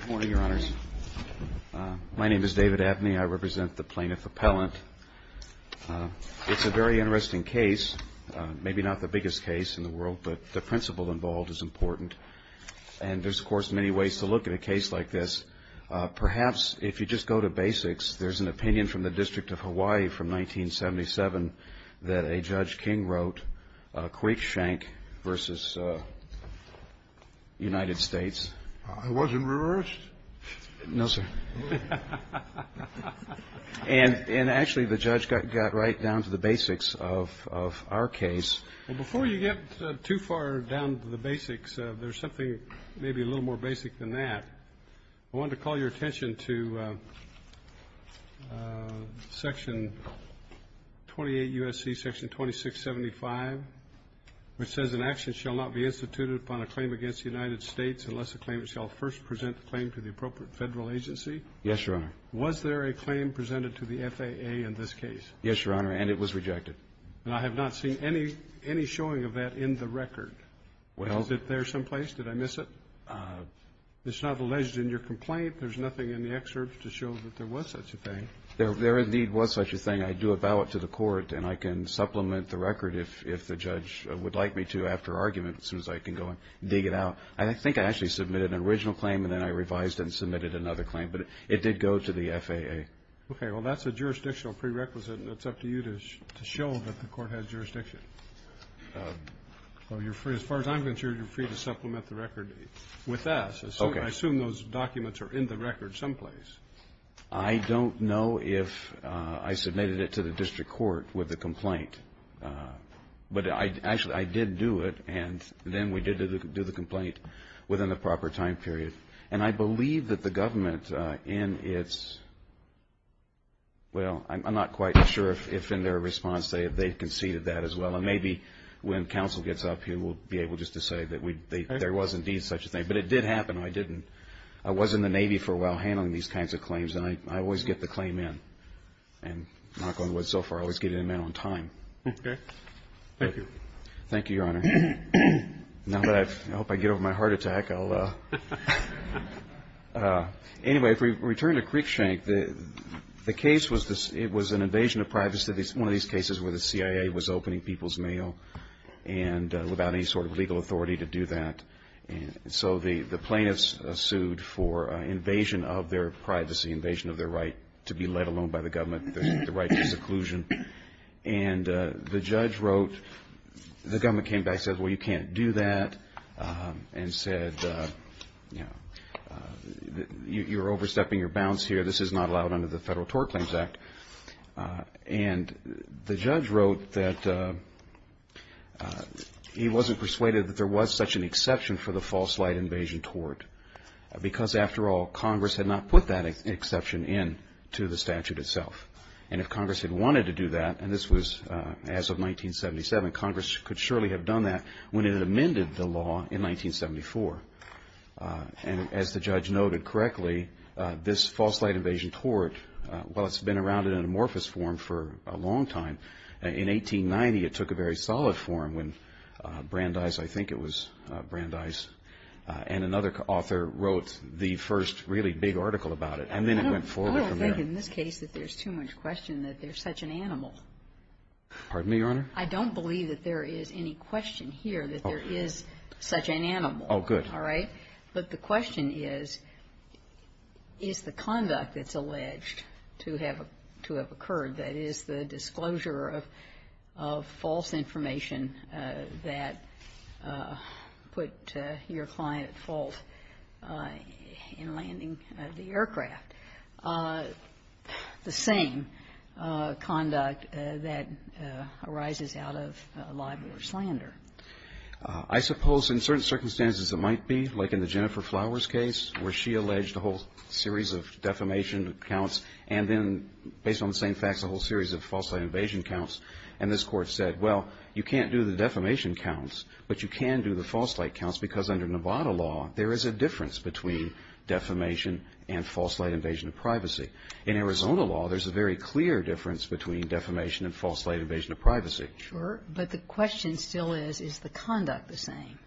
Good morning, Your Honors. My name is David Abney. I represent the Plaintiff Appellant. It's a very interesting case, maybe not the biggest case in the world, but the principle involved is important. And there's, of course, many ways to look at a case like this. Perhaps if you just go to basics, there's an opinion from the District of Hawaii from 1977 that a Judge King wrote, quick shank versus United States. I wasn't reversed? No, sir. And actually, the judge got right down to the basics of our case. Before you get too far down to the basics, there's something maybe a little more basic than that. I wanted to call your attention to Section 28 U.S.C. Section 2675, which says an action shall not be instituted upon a claim against the United States unless the claimant shall first present the claim to the appropriate Federal agency. Yes, Your Honor. Was there a claim presented to the FAA in this case? Yes, Your Honor. And it was rejected. And I have not seen any showing of that in the record. Well Is it there someplace? Did I miss it? It's not alleged in your complaint. There's nothing in the excerpt to show that there was such a thing. There indeed was such a thing. I do a ballot to the court, and I can supplement the record if the judge would like me to after argument, as soon as I can go and dig it out. I think I actually submitted an original claim, and then I revised it and submitted another claim. But it did go to the FAA. Okay. Well, that's a jurisdictional prerequisite, and it's up to you to show that the court has jurisdiction. Well, as far as I'm concerned, you're free to supplement the record with that. Okay. I assume those documents are in the record someplace. I don't know if I submitted it to the district court with the complaint. But actually, I did do it, and then we did do the complaint within the proper time period. And I believe that the government in its – well, I'm not quite sure if in their response they conceded that as well. And maybe when counsel gets up here, we'll be able just to say that there was indeed such a thing. But it did happen. I didn't – I was in the Navy for a while handling these kinds of claims, and I always get the claim in. And knock on wood, so far, I always get it in on time. Okay. Thank you. Thank you, Your Honor. Now that I've – I hope I get over my heart attack, I'll – anyway, if we return to Creekshank, the case was – it was an invasion of privacy. One of these cases where the CIA was opening people's mail and without any sort of legal authority to do that. And so the plaintiffs sued for invasion of their privacy, invasion of their right to be let alone by the government, the right to seclusion. And the judge wrote – the government came back, said, well, you can't do that, and said, you know, you're overstepping your bounds here. This is not allowed under the Federal Tort Claims Act. And the judge wrote that he wasn't persuaded that there was such an exception for the false light invasion tort, because after all, Congress had not put that exception in to the statute itself. And if Congress had wanted to do that – and this was as of 1977 – Congress could surely have done that when it amended the law in 1974. And as the judge noted correctly, this false light invasion tort, while it's been around in amorphous form for a long time, in 1890 it took a very solid form when Brandeis – I think it was Brandeis – and another author wrote the first really big article about it. And then it went forward from there. I don't think in this case that there's too much question that there's such an animal. Pardon me, Your Honor? I don't believe that there is any question here that there is such an animal. Oh, good. All right. But the question is, is the conduct that's alleged to have occurred, that is, the disclosure of false information that put your client at fault in landing the aircraft, the same conduct that arises out of libel or slander? I suppose in certain circumstances it might be, like in the Jennifer Flowers case, where she alleged a whole series of defamation counts and then, based on the same facts, a whole series of false light invasion counts. And this Court said, well, you can't do the defamation counts, but you can do the false light counts, because under Nevada law there is a difference between defamation and false light invasion of privacy. In Arizona law, there's a very clear difference between defamation and false light invasion of privacy. Sure. But the question still is, is the conduct the same?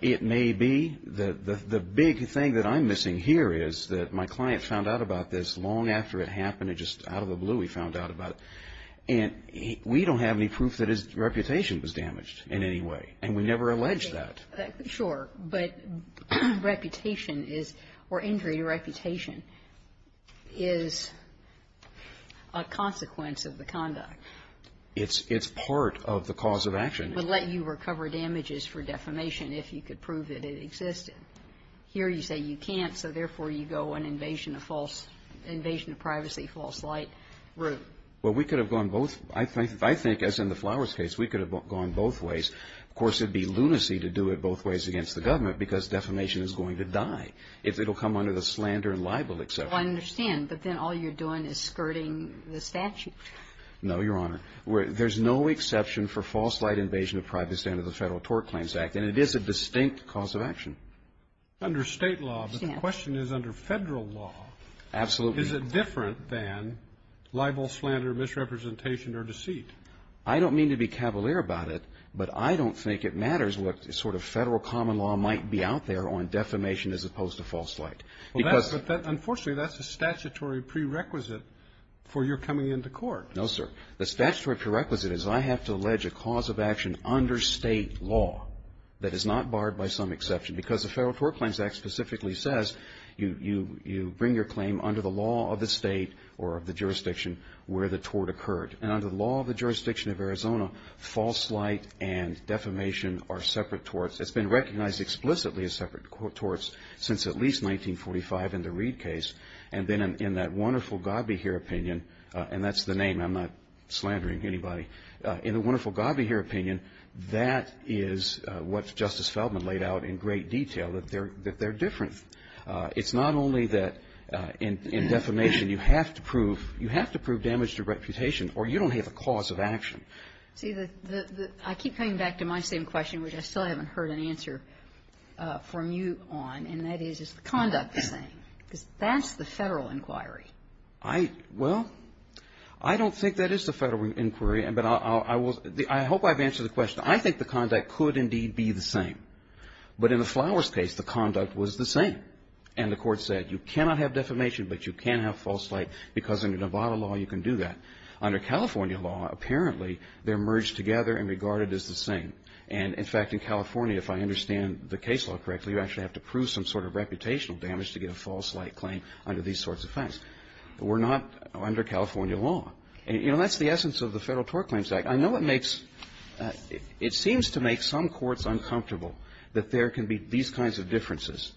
It may be. The big thing that I'm missing here is that my client found out about this long after it happened. It just out of the blue he found out about it. And we don't have any proof that his reputation was damaged in any way. And we never alleged that. Sure. But reputation is or injury to reputation is a consequence of the conduct. It's part of the cause of action. But let you recover damages for defamation if you could prove that it existed. Here you say you can't, so therefore you go an invasion of false – invasion of privacy, false light route. Well, we could have gone both – I think, as in the Flowers case, we could have gone both ways. Of course, it would be lunacy to do it both ways against the government, because defamation is going to die if it will come under the slander and libel, et cetera. Well, I understand. But then all you're doing is skirting the statute. No, Your Honor. There's no exception for false light invasion of privacy under the Federal Tort Claims Act. And it is a distinct cause of action. Under state law, but the question is under federal law, is it different than libel, slander, misrepresentation, or deceit? I don't mean to be cavalier about it, but I don't think it matters what sort of federal common law might be out there on defamation as opposed to false light. Well, that's – but that – unfortunately, that's a statutory prerequisite for your coming into court. No, sir. The statutory prerequisite is I have to allege a cause of action under state law that is not barred by some exception, because the Federal Tort Claims Act specifically says you bring your claim under the law of the state or of the jurisdiction where the tort occurred. And under the law of the jurisdiction of Arizona, false light and defamation are separate torts since at least 1945 in the Reed case. And then in that wonderful God be here opinion – and that's the name. I'm not slandering anybody. In the wonderful God be here opinion, that is what Justice Feldman laid out in great detail, that they're different. It's not only that in defamation you have to prove – you have to prove damage to reputation or you don't have a cause of action. See, the – I keep coming back to my same question, which I still haven't heard an answer from you on, and that is, is the conduct the same? Because that's the Federal inquiry. I – well, I don't think that is the Federal inquiry, but I will – I hope I've answered the question. I think the conduct could indeed be the same. But in the Flowers case, the conduct was the same. And the Court said you cannot have defamation, but you can have false light because under Nevada law you can do that. Under California law, apparently, they're merged together and regarded as the same. And, in fact, in California, if I understand the case law correctly, you actually have to prove some sort of reputational damage to get a false light claim under these sorts of facts. We're not under California law. And, you know, that's the essence of the Federal Tort Claims Act. I know it makes – it seems to make some courts uncomfortable that there can be these kinds of differences,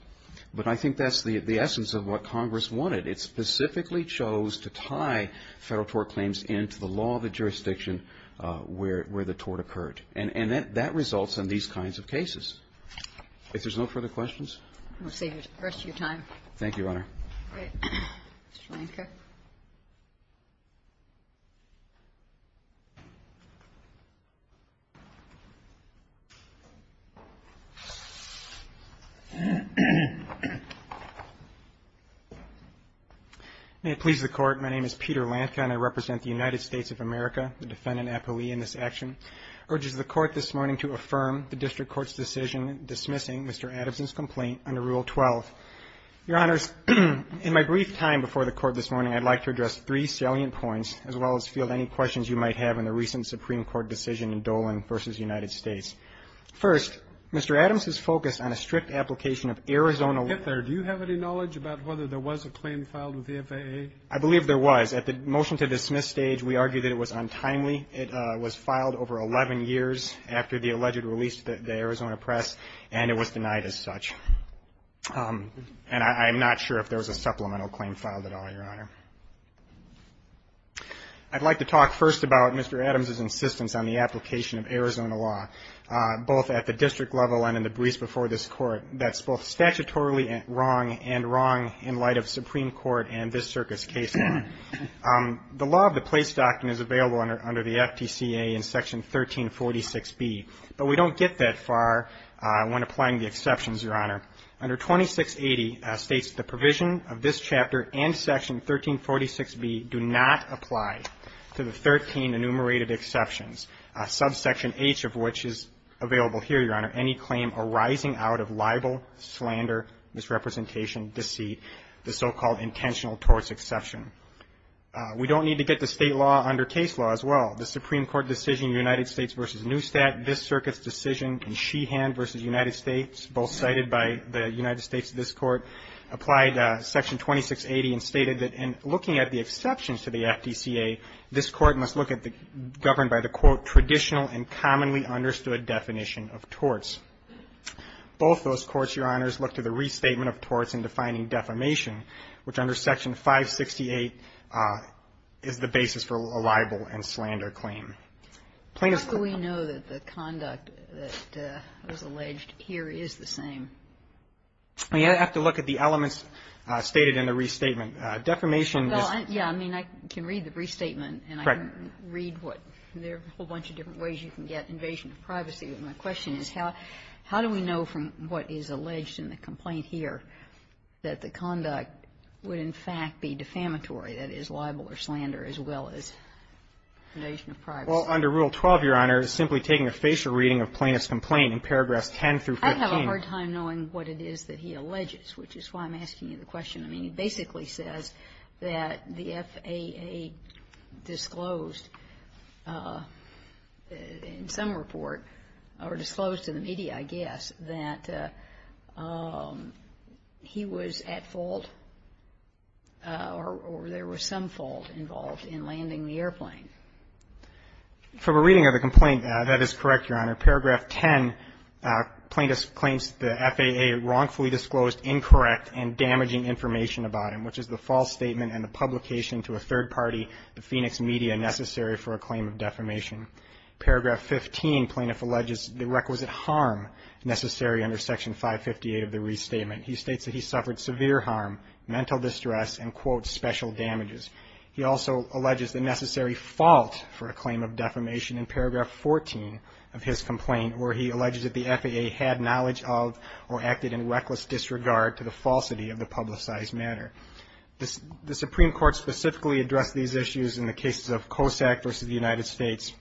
but I think that's the essence of what Congress wanted. It specifically chose to tie Federal tort claims into the law of the jurisdiction where the tort occurred. And that results in these kinds of cases. If there's no further questions? We'll save the rest of your time. Thank you, Your Honor. May it please the Court, my name is Peter Lanka and I represent the United States of America, the defendant appellee in this action. I urge the Court this morning to affirm the District Court's decision dismissing Mr. Adams' complaint under Rule 12. Your Honors, in my brief time before the Court this morning, I'd like to address three salient points, as well as field any questions you might have on the recent Supreme Court decision in Dolan v. United States. First, Mr. Adams has focused on a strict application of Arizona law. Mr. Lanka, do you have any knowledge about whether there was a claim filed with the FAA? I believe there was. At the motion to dismiss stage, we argued that it was untimely. It was filed over 11 years after the alleged release to the Arizona press, and it was denied as such. And I'm not sure if there was a supplemental claim filed at all, Your Honor. I'd like to talk first about Mr. Adams' insistence on the application of Arizona law, both at the district level and in the briefs before this Court, that's both cases. The law of the place doctrine is available under the FTCA in Section 1346B, but we don't get that far when applying the exceptions, Your Honor. Under 2680 states the provision of this chapter and Section 1346B do not apply to the 13 enumerated exceptions, subsection H of which is available here, Your Honor, any claim arising out of libel, slander, misrepresentation, deceit, the so-called intentional torts exception. We don't need to get to state law under case law as well. The Supreme Court decision United States v. Newstat, this circuit's decision in Sheehan v. United States, both cited by the United States in this Court, applied Section 2680 and stated that in looking at the exceptions to the FTCA, this Court must look at the governed by the, quote, traditional and commonly understood definition of torts. Both those courts, Your Honors, look to the restatement of torts in defining defamation, which under Section 568 is the basis for a libel and slander claim. Plaintiffs' claim to libel and slander claim. Kagan. How do we know that the conduct that was alleged here is the same? Well, you have to look at the elements stated in the restatement. Defamation is the same. Well, yeah. I mean, I can read the restatement and I can read what there are a whole bunch of different ways you can get invasion of privacy, but my question is how do we know from what is alleged in the complaint here that the conduct would, in fact, be defamatory, that is, libel or slander, as well as invasion of privacy? Well, under Rule 12, Your Honor, simply taking a facial reading of plaintiff's complaint in paragraphs 10 through 15. I have a hard time knowing what it is that he alleges, which is why I'm asking you the question. I mean, he basically says that the FAA disclosed in some report, or in some documents, that he was at fault or there was some fault involved in landing the airplane. From a reading of the complaint, that is correct, Your Honor. Paragraph 10, plaintiff claims the FAA wrongfully disclosed incorrect and damaging information about him, which is the false statement and the publication to a third party, the Phoenix media, necessary for a claim of defamation. Paragraph 15, plaintiff alleges the requisite harm necessary under Section 558 of the restatement. He states that he suffered severe harm, mental distress, and, quote, special damages. He also alleges the necessary fault for a claim of defamation in paragraph 14 of his complaint, where he alleges that the FAA had knowledge of or acted in reckless disregard to the falsity of the publicized matter. The Supreme Court specifically addressed these issues in the cases of COSAC versus the United States,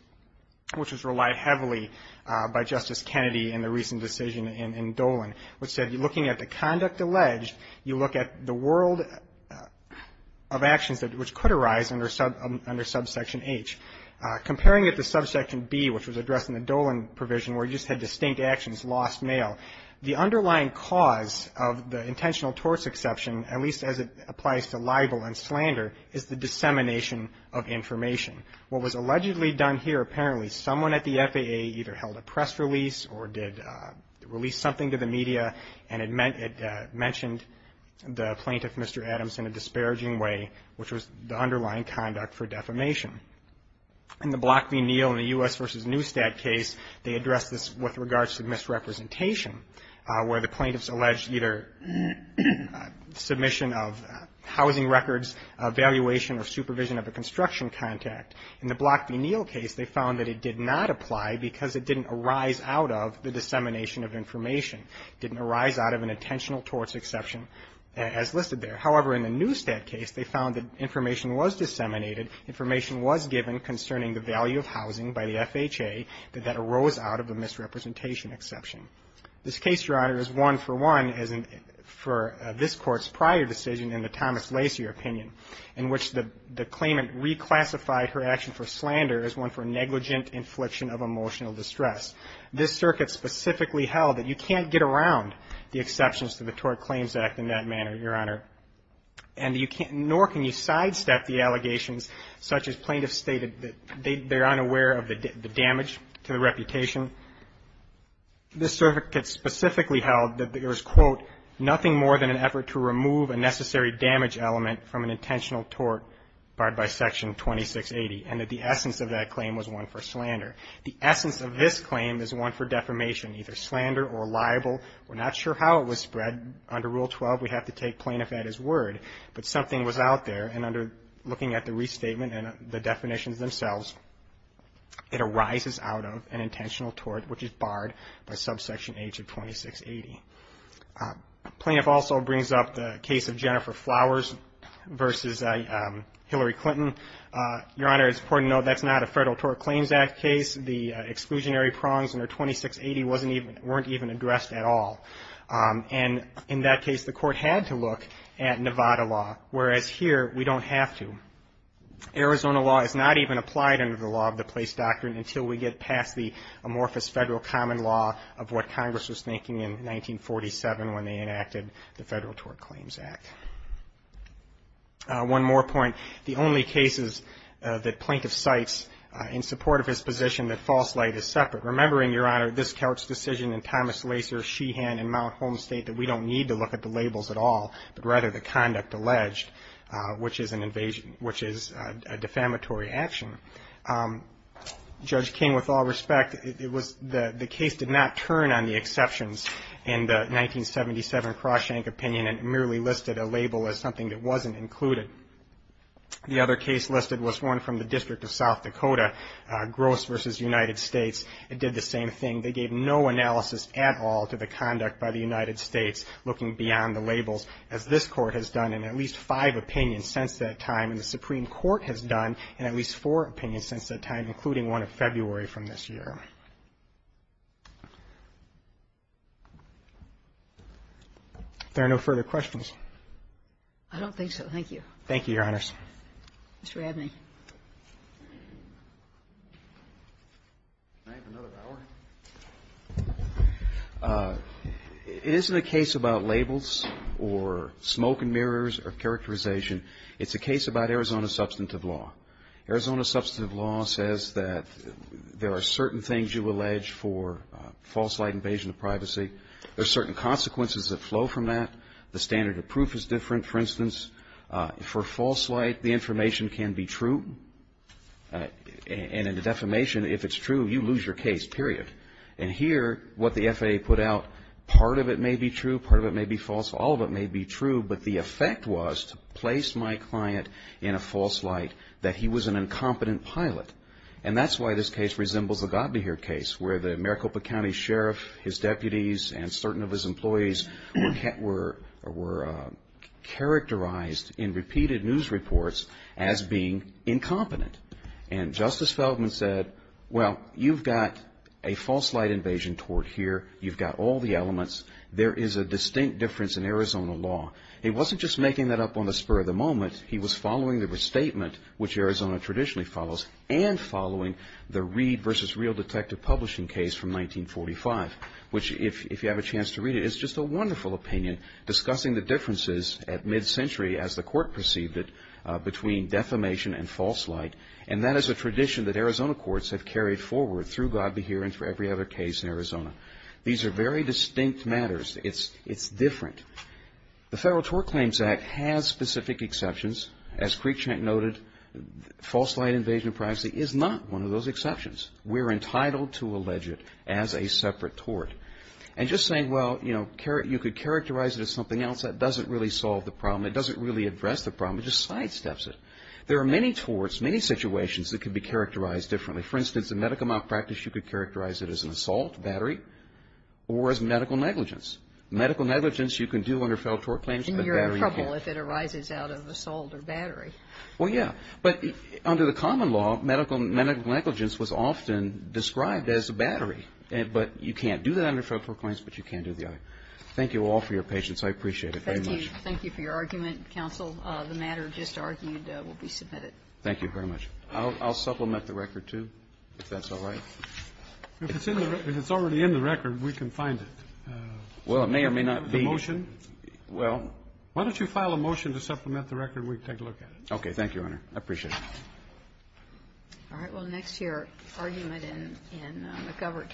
which was relied heavily by Justice Kennedy in the recent decision in Dolan, which said, looking at the conduct alleged, you look at the world of actions that which could arise under subsection H. Comparing it to subsection B, which was addressed in the Dolan provision, where you just had distinct actions, lost mail, the underlying cause of the intentional torts exception, at least as it applies to libel and slander, is the dissemination of misrepresentation. Allegedly done here, apparently, someone at the FAA either held a press release or did release something to the media, and it mentioned the plaintiff, Mr. Adams, in a disparaging way, which was the underlying conduct for defamation. In the Block v. Neal in the U.S. versus Neustadt case, they addressed this with regards to misrepresentation, where the plaintiffs alleged either submission of housing records, evaluation, or supervision of a construction contact. In the Block v. Neal case, they found that it did not apply because it didn't arise out of the dissemination of information, didn't arise out of an intentional torts exception as listed there. However, in the Neustadt case, they found that information was disseminated, information was given concerning the value of housing by the FHA, that that arose out of the misrepresentation exception. This case, Your Honor, is one for one for this Court's prior decision in the Thomas section for slander is one for negligent infliction of emotional distress. This circuit specifically held that you can't get around the exceptions to the Tort Claims Act in that manner, Your Honor, and you can't, nor can you sidestep the allegations such as plaintiffs stated that they're unaware of the damage to the reputation. This circuit specifically held that there was, quote, nothing more than an effort to remove a necessary damage element from an intentional tort barred by Section 2680. And that the essence of that claim was one for slander. The essence of this claim is one for defamation, either slander or libel. We're not sure how it was spread. Under Rule 12, we have to take plaintiff at his word. But something was out there, and under looking at the restatement and the definitions themselves, it arises out of an intentional tort which is barred by Subsection H of 2680. Plaintiff also brings up the case of Jennifer Flowers versus Hillary Clinton. Your Honor, it's important to note that's not a Federal Tort Claims Act case. The exclusionary prongs under 2680 wasn't even, weren't even addressed at all. And in that case, the court had to look at Nevada law. Whereas here, we don't have to. Arizona law is not even applied under the law of the place doctrine until we get past the amorphous federal common law of what Congress was thinking in 1947 when they enacted the Federal Tort Claims Act. One more point. The only cases that plaintiff cites in support of his position that false light Remembering, Your Honor, this court's decision in Thomas Lacer, Sheehan, and Mount Holm state that we don't need to look at the labels at all, but rather the conduct alleged, which is an invasion, which is a defamatory action. Judge King, with all respect, it was, the case did not turn on the exceptions in the 1977 Crosshank opinion and merely listed a label as something that wasn't included. The other case listed was one from the District of South Dakota, Gross versus United States. It did the same thing. They gave no analysis at all to the conduct by the United States looking beyond the labels, as this court has done in at least five opinions since that time. And the Supreme Court has done in at least four opinions since that time, including one in February from this year. If there are no further questions. I don't think so. Thank you. Thank you, Your Honors. Mr. Abney. Can I have another hour? It isn't a case about labels or smoke and mirrors or characterization. It's a case about Arizona substantive law. Arizona substantive law says that there are certain things you allege for false light invasion of privacy. There are certain consequences that flow from that. The standard of proof is different. For instance, for false light, the information can be true, and in the defamation, if it's true, you lose your case, period. And here, what the FAA put out, part of it may be true, part of it may be false, all of it may be true, but the effect was to place my client in a false light that he was an incompetent pilot. And that's why this case resembles the Godineer case where the Maricopa County Sheriff, his deputies, and certain of his employees were characterized in repeated news reports as being incompetent. And Justice Feldman said, well, you've got a false light invasion toward here. You've got all the elements. There is a distinct difference in Arizona law. He wasn't just making that up on the spur of the moment. He was following the restatement, which Arizona traditionally follows, and following the Reed versus Real Detective publishing case from 1945, which if you have a chance to read it, it's just a wonderful opinion, discussing the differences at mid-century, as the court perceived it, between defamation and false light. And that is a tradition that Arizona courts have carried forward through God Be Here and for every other case in Arizona. These are very distinct matters. It's different. The Federal Tort Claims Act has specific exceptions. As Creekshank noted, false light invasion of privacy is not one of those exceptions. We're entitled to allege it as a separate tort. And just saying, well, you know, you could characterize it as something else, that doesn't really solve the problem. It doesn't really address the problem. It just sidesteps it. There are many torts, many situations that could be characterized differently. For instance, in medical malpractice, you could characterize it as an assault, battery, or as medical negligence. Medical negligence, you can do under federal tort claims, but battery, you can't. It would be trouble if it arises out of assault or battery. Well, yeah. But under the common law, medical negligence was often described as a battery. But you can't do that under federal tort claims, but you can do the other. Thank you all for your patience. I appreciate it very much. Thank you. Thank you for your argument, counsel. The matter just argued will be submitted. Thank you very much. I'll supplement the record, too, if that's all right. If it's already in the record, we can find it. Well, it may or may not be. The motion? Well. Why don't you file a motion to supplement the record, and we can take a look at it? Okay. Thank you, Your Honor. I appreciate it. All right. Well, next to your argument in McGovern.